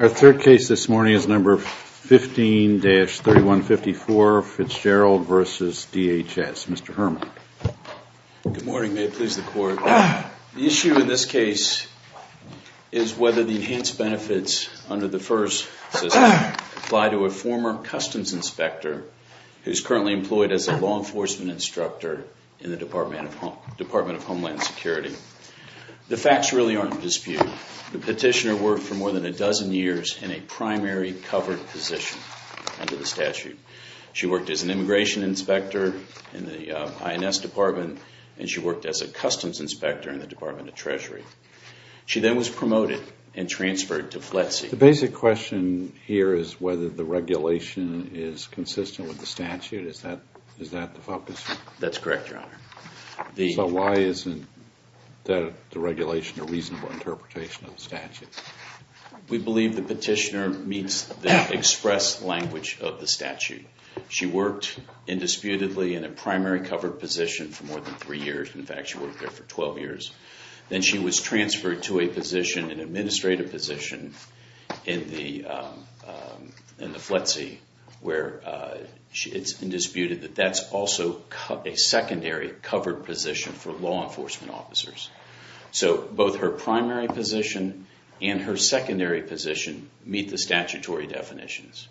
Our question is whether the enhanced benefits under the FERS system apply to a former Customs Inspector who is currently employed as a law enforcement instructor in the Department of Homeland Security. The facts really aren't in dispute. The petitioner worked for more than a dozen years in a primary covered position under the statute. She worked as an Immigration Inspector in the INS Department, and she worked as a Customs Inspector in the Department of Treasury. She then was promoted and transferred to FLETC. The basic question here is whether the regulation is consistent with the statute. Is that the focus? That's correct, Your Honor. So why isn't the regulation a reasonable interpretation of the statute? We believe the petitioner meets the express language of the statute. She worked indisputably in a primary covered position for more than three years. In fact, she worked there for 12 years. Then she was transferred to an administrative position in the FLETC, where it's indisputed that that's also a secondary covered position for law enforcement officers. So both her primary position and her secondary position meet the statutory definitions.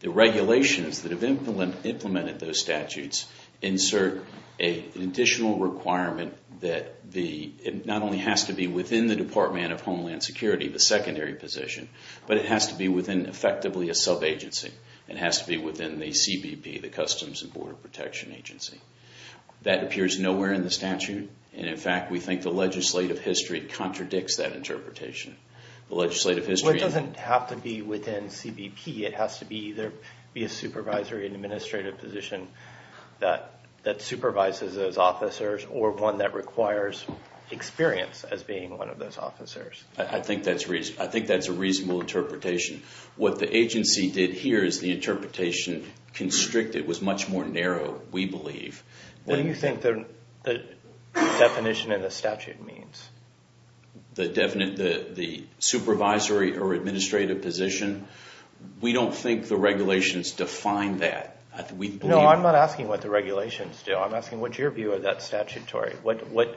The regulations that have implemented those statutes insert an additional requirement that it not only has to be within the Department of Homeland Security, the secondary position, but it has to be within effectively a sub-agency. It has to be within the CBP, the Customs and Border Protection Agency. That appears nowhere in the statute, and in fact we think the legislative history contradicts that interpretation. The legislative history— Well, it doesn't have to be within CBP. It has to either be a supervisory and administrative position that supervises those officers or one that requires experience as being one of those officers. I think that's a reasonable interpretation. What the agency did here is the interpretation constricted, was much more narrow, we believe. What do you think the definition in the statute means? The supervisory or administrative position? We don't think the regulations define that. No, I'm not asking what the regulations do. I'm asking what's your view of that statutory? What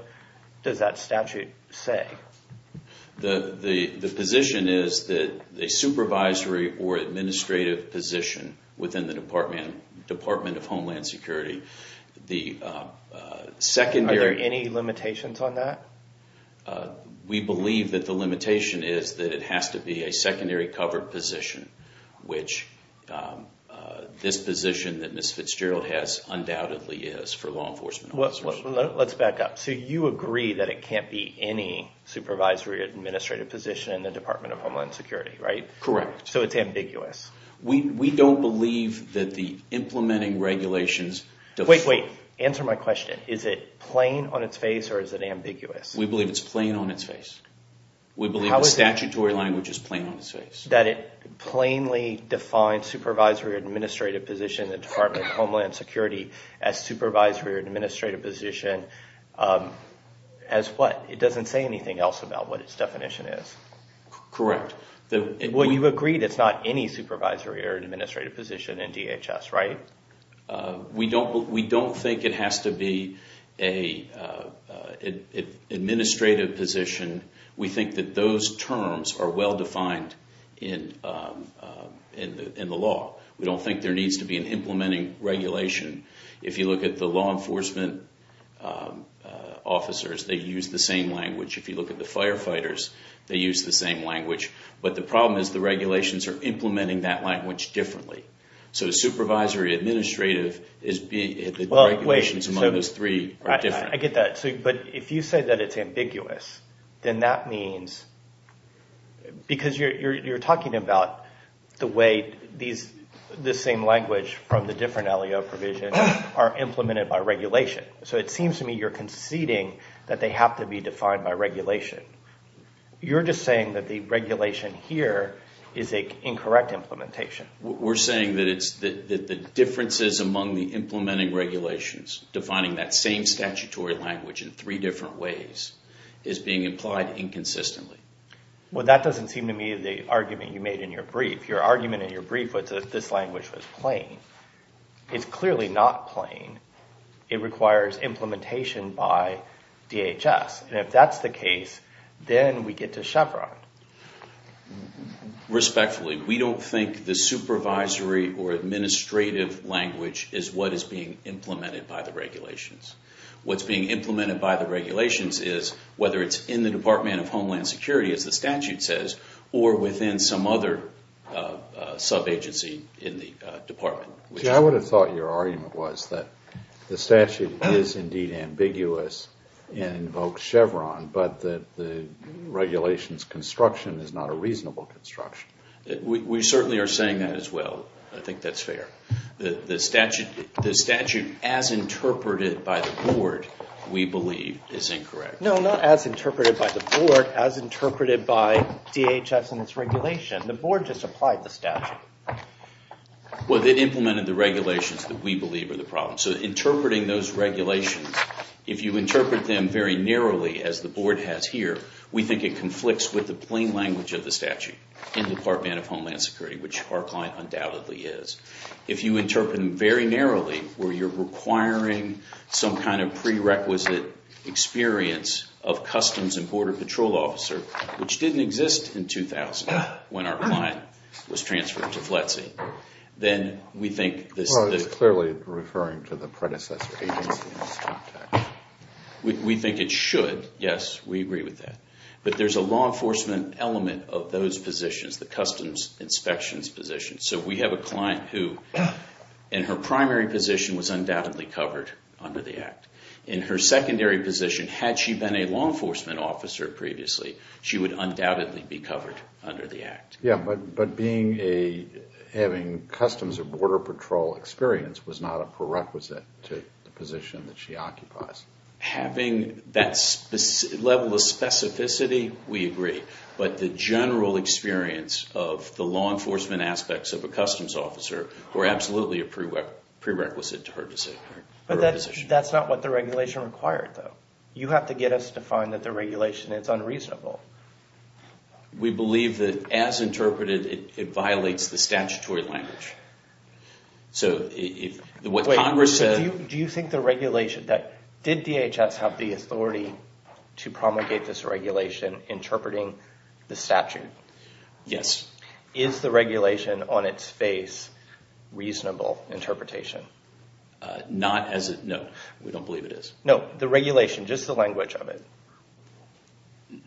does that statute say? The position is that a supervisory or administrative position within the Department of Homeland Security, the secondary— Are there any limitations on that? We believe that the limitation is that it has to be a secondary covered position, which this position that Ms. Fitzgerald has undoubtedly is for law enforcement officers. Let's back up. You agree that it can't be any supervisory or administrative position in the Department of Homeland Security, right? Correct. So it's ambiguous? We don't believe that the implementing regulations— Wait, wait. Answer my question. Is it plain on its face or is it ambiguous? We believe it's plain on its face. We believe the statutory language is plain on its face. That it plainly defines supervisory or administrative position in the Department of Homeland Security as supervisory or administrative position as what? It doesn't say anything else about what its definition is. Correct. Well, you agree that it's not any supervisory or administrative position in DHS, right? We don't think it has to be an administrative position. We think that those terms are well-defined in the law. We don't think there needs to be an implementing regulation. If you look at the law enforcement officers, they use the same language. If you look at the firefighters, they use the same language. But the problem is the regulations are implementing that language differently. So supervisory or administrative, the regulations among those three are different. I get that. But if you say that it's ambiguous, then that means—because you're talking about the way this same language from the different LEO provisions are implemented by regulation. So it seems to me you're conceding that they have to be defined by regulation. You're just saying that the regulation here is an incorrect implementation. We're saying that the differences among the implementing regulations defining that same statutory language in three different ways is being implied inconsistently. Well, that doesn't seem to me the argument you made in your brief. Your argument in your brief was that this language was plain. It's clearly not plain. It requires implementation by DHS. And if that's the case, then we get to Chevron. Respectfully, we don't think the supervisory or administrative language is what is being implemented by the regulations. What's being implemented by the regulations is, whether it's in the Department of Homeland Security, as the statute says, or within some other sub-agency in the department. See, I would have thought your argument was that the statute is indeed ambiguous and invokes Chevron, but that the regulation's construction is not a reasonable construction. We certainly are saying that as well. I think that's fair. The statute as interpreted by the board, we believe, is incorrect. No, not as interpreted by the board, as interpreted by DHS and its regulation. The board just applied the statute. Well, they implemented the regulations that we believe are the problem. So interpreting those regulations, if you interpret them very narrowly, as the board has here, we think it conflicts with the plain language of the statute in the Department of Homeland Security, which our client undoubtedly is. If you interpret them very narrowly, where you're requiring some kind of prerequisite experience of Customs and Border Patrol officer, which didn't exist in 2000 when our client was transferred to FLETC, then we think this is clearly referring to the predecessor agency. We think it should, yes. We agree with that. But there's a law enforcement element of those positions, the customs inspections positions. So we have a client who, in her primary position, was undoubtedly covered under the Act. In her secondary position, had she been a law enforcement officer previously, she would undoubtedly be covered under the Act. Yeah, but having customs or border patrol experience was not a prerequisite to the position that she occupies. Having that level of specificity, we agree. But the general experience of the law enforcement aspects of a customs officer were absolutely a prerequisite to her position. That's not what the regulation required, though. You have to get us to find that the regulation is unreasonable. We believe that, as interpreted, it violates the statutory language. So what Congress said... Do you think the regulation that, did DHS have the authority to promulgate this regulation interpreting the statute? Yes. Is the regulation on its face reasonable interpretation? Not as a... No, we don't believe it is. No, the regulation, just the language of it.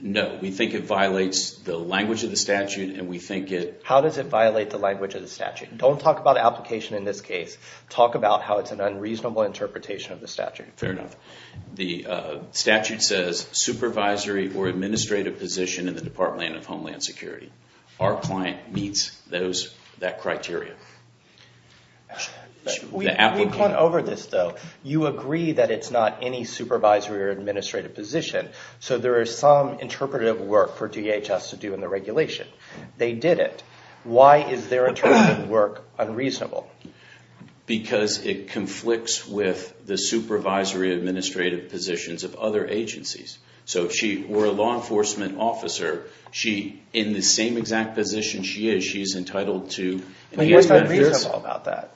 No, we think it violates the language of the statute, and we think it... How does it violate the language of the statute? Don't talk about application in this case. Talk about how it's an unreasonable interpretation of the statute. Fair enough. The statute says, supervisory or administrative position in the Department of Homeland Security. Our client meets that criteria. We've gone over this, though. You agree that it's not any supervisory or administrative position. So there is some interpretive work for DHS to do in the regulation. They didn't. Why is their interpretive work unreasonable? Because it conflicts with the supervisory administrative positions of other agencies. So if she were a law enforcement officer, in the same exact position she is, she's entitled to... What's not reasonable about that?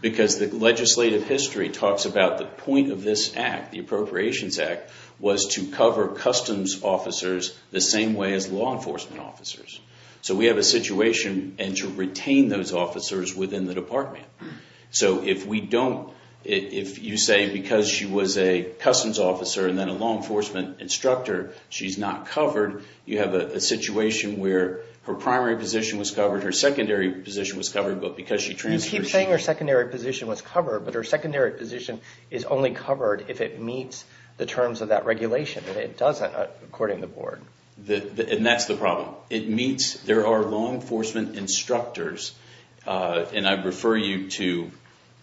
Because the legislative history talks about the point of this act, the Appropriations Act, was to cover customs officers the same way as law enforcement officers. So we have a situation, and to retain those officers within the department. So if we don't... If you say, because she was a customs officer and then a law enforcement instructor, she's not covered, you have a situation where her primary position was covered, her secondary position was covered, but because she transferred... You keep saying her secondary position was covered, but her secondary position is only covered if it meets the terms of that regulation, and it doesn't, according to the board. And that's the problem. It meets... There are law enforcement instructors, and I refer you to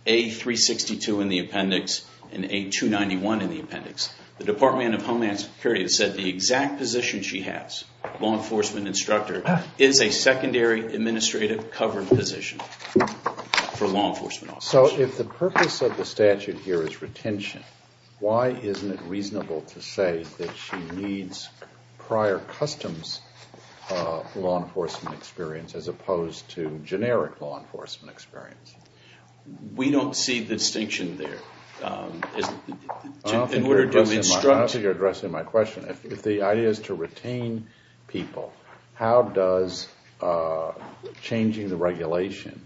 A362 in the appendix and A291 in the appendix. The Department of Homeland Security has said the exact position she has, law enforcement instructor, is a secondary administrative covered position for law enforcement officers. So if the purpose of the statute here is retention, why isn't it reasonable to say that she needs prior customs law enforcement experience as opposed to generic law enforcement experience? We don't see the distinction there. In order to... I don't think you're addressing my question. If the idea is to retain people, how does changing the regulation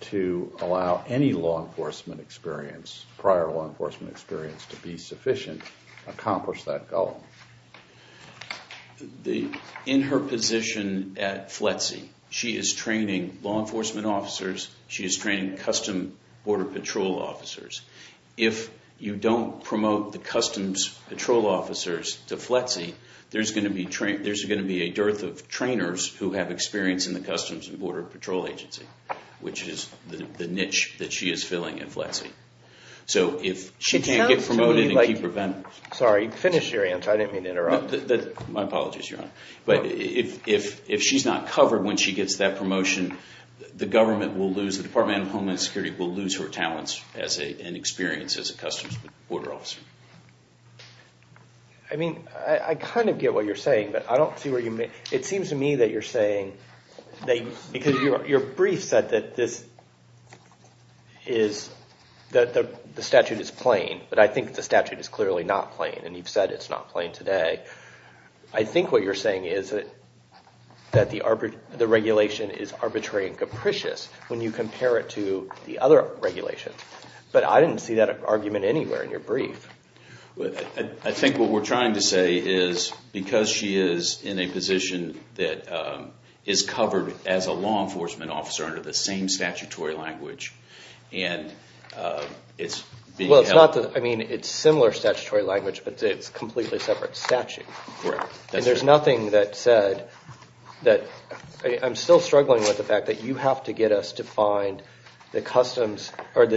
to allow any law enforcement experience, prior law enforcement experience, to be sufficient to accomplish that goal? In her position at FLETC, she is training law enforcement officers. She is training custom border patrol officers. If you don't promote the customs patrol officers to FLETC, there's going to be a dearth of trainers who have experience in the customs and border patrol agency, which is the niche that she is filling at FLETC. So if she can't get promoted and keep her... Sorry. Finish your answer. I didn't mean to interrupt. My apologies, Your Honor. But if she's not covered when she gets that promotion, the government will lose, the Department of Homeland Security will lose her talents and experience as a customs border officer. I mean, I kind of get what you're saying, but I don't see where you... It seems to me that you're saying, because your brief said that the statute is plain, but I think the statute is clearly not plain, and you've said it's not plain today. I think what you're saying is that the regulation is arbitrary and capricious when you compare it to the other regulations. But I didn't see that argument anywhere in your brief. I think what we're trying to say is, because she is in a position that is covered as a law enforcement officer under the same statutory language, and it's being held... Well, it's not the... I mean, it's similar statutory language, but it's a completely separate statute. Correct. That's true. And there's nothing that said that... I'm still struggling with the fact that you have to get us to find the customs or the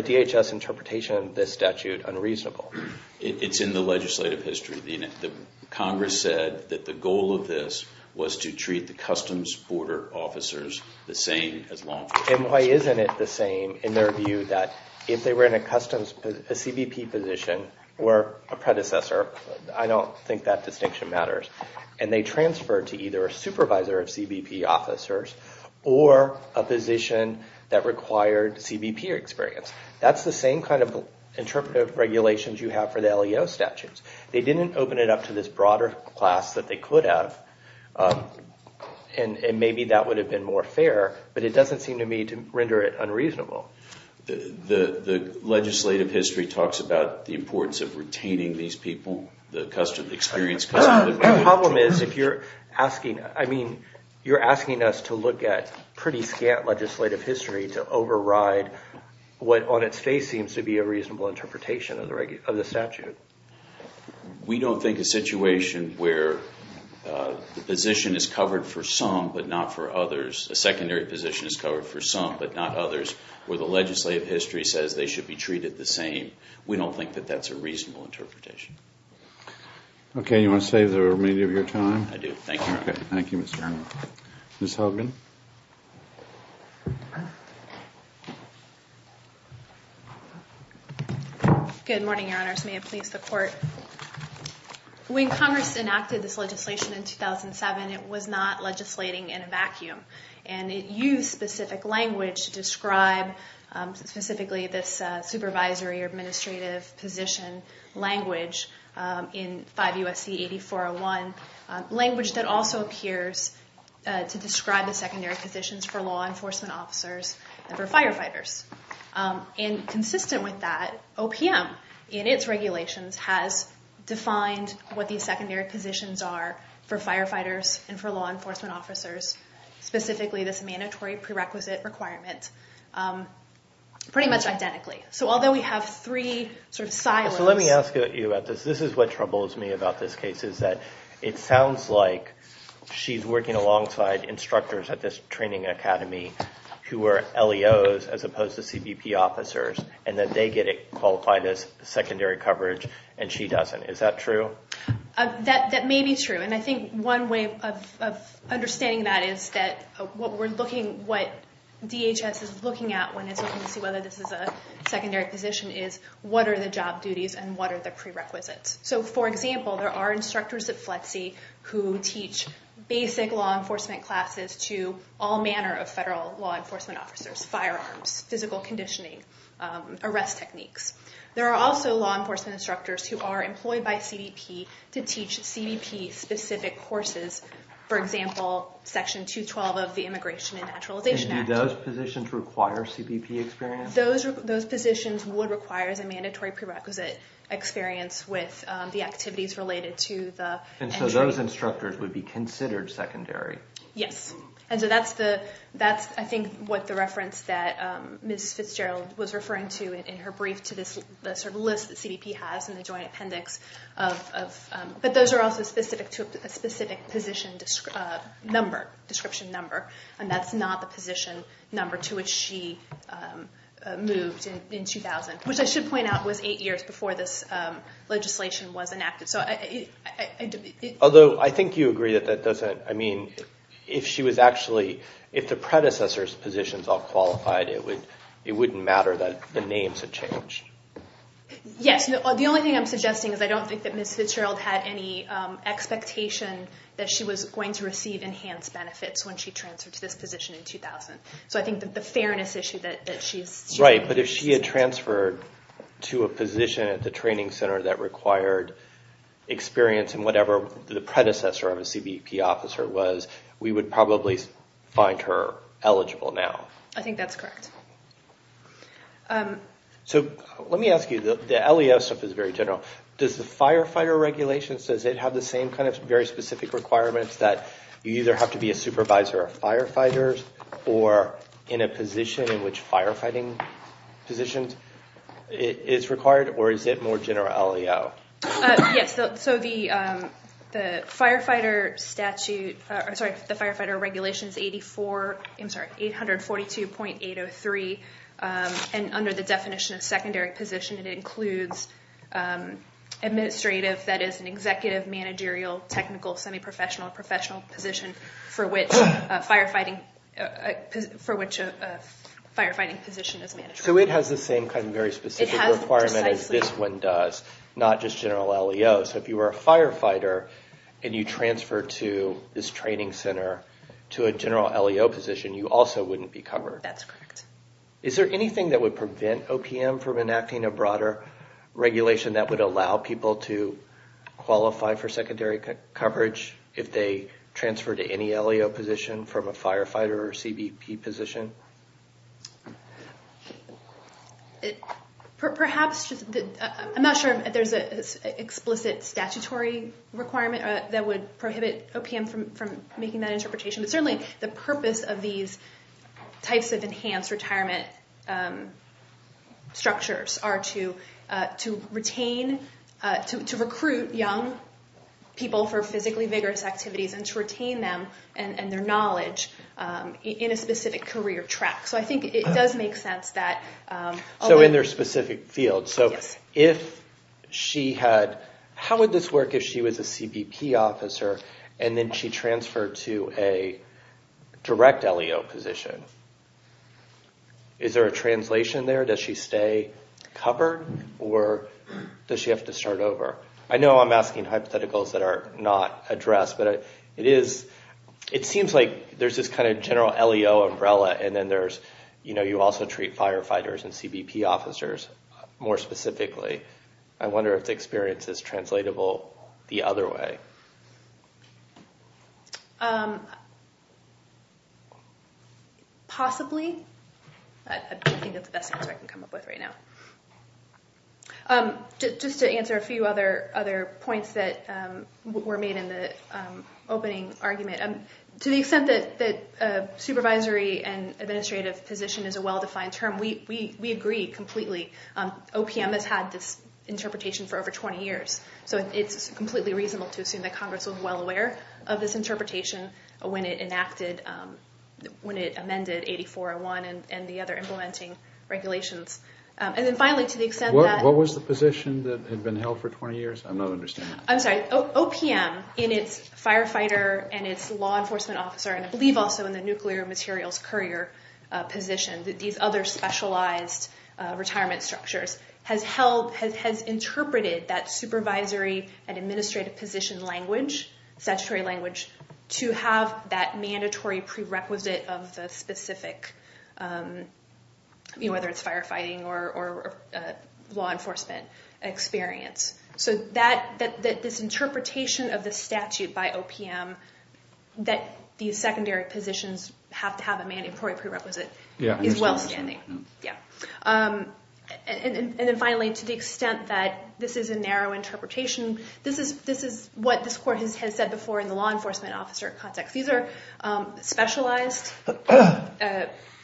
It's in the legislative history. Congress said that the goal of this was to treat the customs border officers the same as law enforcement. And why isn't it the same in their view that if they were in a customs, a CBP position, or a predecessor, I don't think that distinction matters, and they transferred to either a supervisor of CBP officers, or a position that required CBP experience. That's the same kind of interpretive regulations you have for the LEO statutes. They didn't open it up to this broader class that they could have, and maybe that would have been more fair, but it doesn't seem to me to render it unreasonable. The legislative history talks about the importance of retaining these people, the experienced customs... The problem is, if you're asking, I mean, you're asking us to look at pretty scant legislative history to override what, on its face, seems to be a reasonable interpretation of the statute. We don't think a situation where the position is covered for some, but not for others, a secondary position is covered for some, but not others, where the legislative history says they should be treated the same. We don't think that that's a reasonable interpretation. Okay. You want to save the remainder of your time? I do. Thank you. Okay. Thank you, Mr. Arnold. Ms. Hogan? Good morning, Your Honors. May it please the Court. When Congress enacted this legislation in 2007, it was not legislating in a vacuum, and it used specific language to describe, specifically, this supervisory or administrative position language in 5 U.S.C. 8401, language that also appears to describe the secondary positions for law enforcement officers and for firefighters. And consistent with that, OPM, in its regulations, has defined what these secondary positions are for firefighters and for law enforcement officers, specifically this mandatory prerequisite requirement, pretty much identically. So, although we have three sort of silos... So, let me ask you about this. This is what troubles me about this case, is that it sounds like she's working alongside instructors at this training academy who are LEOs, as opposed to CBP officers, and that they get it qualified as secondary coverage, and she doesn't. Is that true? That may be true. And I think one way of understanding that is that what we're looking, what DHS is looking at when it's looking to see whether this is a secondary position is, what are the job duties and what are the prerequisites? So, for example, there are instructors at FLETC who teach basic law enforcement classes to all manner of federal law enforcement officers, firearms, physical conditioning, arrest techniques. There are also law enforcement instructors who are employed by CBP to teach CBP-specific courses, for example, Section 212 of the Immigration and Naturalization Act. And do those positions require CBP experience? Those positions would require a mandatory prerequisite experience with the activities related to the... And so, those instructors would be considered secondary? Yes. And so, that's, I think, what the reference that Ms. Fitzgerald was referring to in her brief to this sort of list that CBP has in the joint appendix of... But those are also specific to a specific position number, description number, and that's not the position number to which she moved in 2000, which I should point out was eight years before this legislation was enacted. So, I... Although, I think you agree that that doesn't, I mean, if she was actually, if the predecessor's positions all qualified, it wouldn't matter that the names had changed. Yes. The only thing I'm suggesting is I don't think that Ms. Fitzgerald had any expectation that she was going to receive enhanced benefits when she transferred to this position in 2000. So, I think that the fairness issue that she's... Right. But if she had transferred to a position at the training center that required experience in whatever the predecessor of a CBP officer was, we would probably find her eligible now. I think that's correct. So, let me ask you, the LEO stuff is very general. Does the firefighter regulations, does it have the same kind of very specific requirements that you either have to be a supervisor of firefighters or in a position in which firefighting positions is required, or is it more general LEO? Yes. So, the firefighter statute, sorry, the firefighter regulations 84, I'm sorry, 842.803, and under the definition of secondary position, it includes administrative, that is an executive, managerial, technical, semi-professional, professional position for which a firefighting position is managed. So, it has the same kind of very specific requirement as this one does, not just general LEO. So, if you were a firefighter and you transferred to this training center to a general LEO position, you also wouldn't be covered. That's correct. Is there anything that would prevent OPM from enacting a broader regulation that would allow people to qualify for secondary coverage if they transferred to any LEO position from a firefighter or CBP position? Perhaps, I'm not sure if there's an explicit statutory requirement that would prohibit OPM from making that interpretation, but certainly the purpose of these types of enhanced retirement structures are to retain, to recruit young people for physically vigorous activities and to retain them and their knowledge in a specific career track. So, I think it does make sense that... So, in their specific field. Yes. So, if she had, how would this work if she was a CBP officer and then she transferred to a direct LEO position, is there a translation there? Does she stay covered or does she have to start over? I know I'm asking hypotheticals that are not addressed, but it is, it seems like there's this kind of general LEO umbrella and then there's, you know, you also treat firefighters and CBP officers more specifically. I wonder if the experience is translatable the other way. Possibly. I don't think that's the best answer I can come up with right now. Just to answer a few other points that were made in the opening argument. To the extent that supervisory and administrative position is a well-defined term, we agree completely. OPM has had this interpretation for over 20 years, so it's completely reasonable to assume that Congress was well aware of this interpretation when it enacted, when it amended 8401 and the other implementing regulations. And then finally, to the extent that... What was the position that had been held for 20 years? I'm not understanding. I'm sorry. OPM, in its firefighter and its law enforcement officer, and I believe also in the nuclear materials courier position, these other specialized retirement structures, has held, has interpreted that supervisory and administrative position language, statutory language, to have that mandatory prerequisite of the specific, you know, whether it's firefighting or law enforcement experience. So that, this interpretation of the statute by OPM, that these secondary positions have to have a mandatory prerequisite, is well-standing, yeah. And then finally, to the extent that this is a narrow interpretation, this is what this court has said before in the law enforcement officer context. These are specialized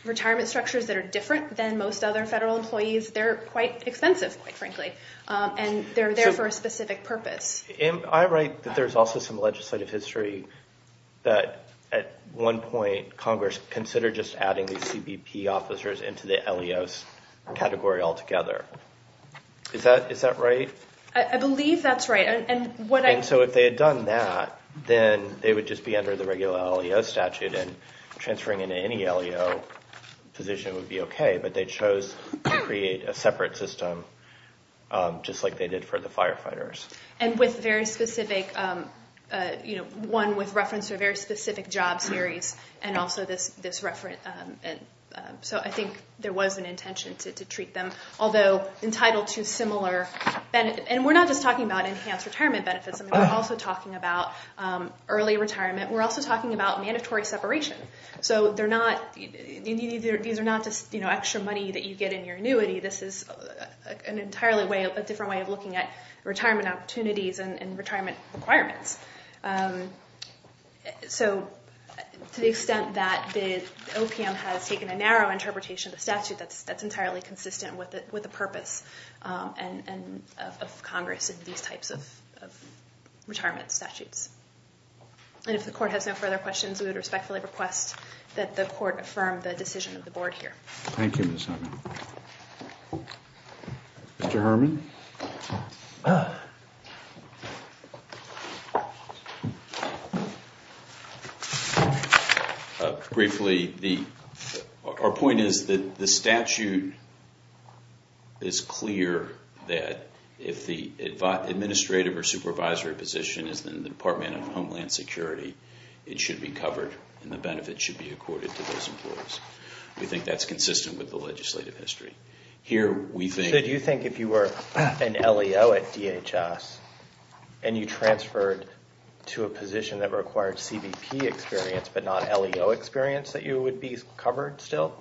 retirement structures that are different than most other federal employees. They're quite expensive, quite frankly, and they're there for a specific purpose. I write that there's also some legislative history that, at one point, Congress considered just adding these CBP officers into the LEOs category altogether. Is that right? I believe that's right. And what I... And so if they had done that, then they would just be under the regular LEO statute and transferring into any LEO position would be okay, but they chose to create a separate system just like they did for the firefighters. And with very specific, you know, one with reference to a very specific job series and also this reference... So I think there was an intention to treat them, although entitled to similar... And we're not just talking about enhanced retirement benefits, I mean, we're also talking about early retirement. We're also talking about mandatory separation. So these are not just, you know, extra money that you get in your annuity. This is an entirely different way of looking at retirement opportunities and retirement requirements. So to the extent that the OPM has taken a narrow interpretation of the statute, that's entirely consistent with the purpose of Congress in these types of retirement statutes. And if the Court has no further questions, we would respectfully request that the Court affirm the decision of the Board here. Thank you, Ms. Herman. Mr. Herman? Briefly, our point is that the statute is clear that if the administrative or supervisory position is in the Department of Homeland Security, it should be covered and the benefits should be accorded to those employees. We think that's consistent with the legislative history. Should you think if you were an LEO at DHS and you transferred to a position that required CBP experience but not LEO experience that you would be covered still?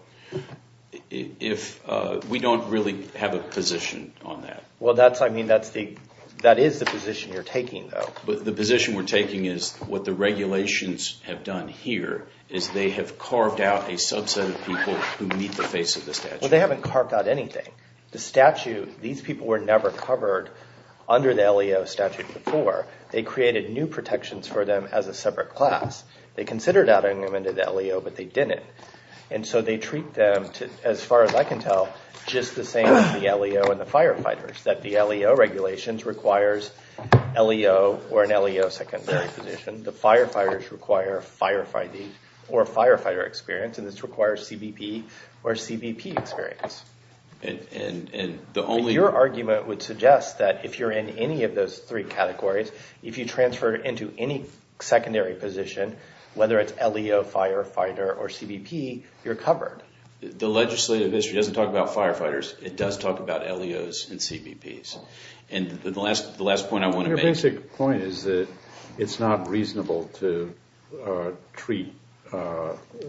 We don't really have a position on that. Well that's, I mean, that is the position you're taking though. The position we're taking is what the regulations have done here is they have carved out a subset of people who meet the face of the statute. So they haven't carved out anything. The statute, these people were never covered under the LEO statute before. They created new protections for them as a separate class. They considered adding them into the LEO but they didn't. And so they treat them, as far as I can tell, just the same as the LEO and the firefighters. That the LEO regulations requires LEO or an LEO secondary position. The firefighters require firefighting or firefighter experience and this requires CBP or CBP experience. And your argument would suggest that if you're in any of those three categories, if you transfer into any secondary position, whether it's LEO, firefighter, or CBP, you're covered. The legislative history doesn't talk about firefighters. It does talk about LEOs and CBPs. And the last point I want to make. Your basic point is that it's not reasonable to treat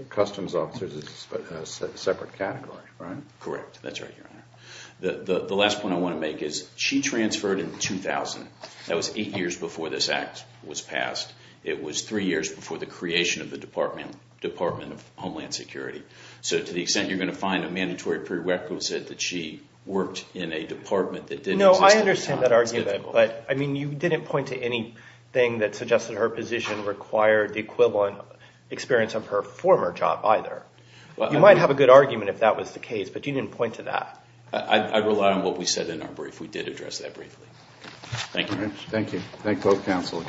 customs officers as a separate category, right? Correct. That's right, Your Honor. The last point I want to make is she transferred in 2000. That was eight years before this act was passed. It was three years before the creation of the Department of Homeland Security. So to the extent you're going to find a mandatory prerequisite that she worked in a department that didn't exist at the time, it's difficult. No, I understand that argument. But, I mean, you didn't point to anything that suggested her position required the equivalent experience of her former job either. You might have a good argument if that was the case, but you didn't point to that. I rely on what we said in our brief. We did address that briefly. Thank you. Thank you. Thank both counsel.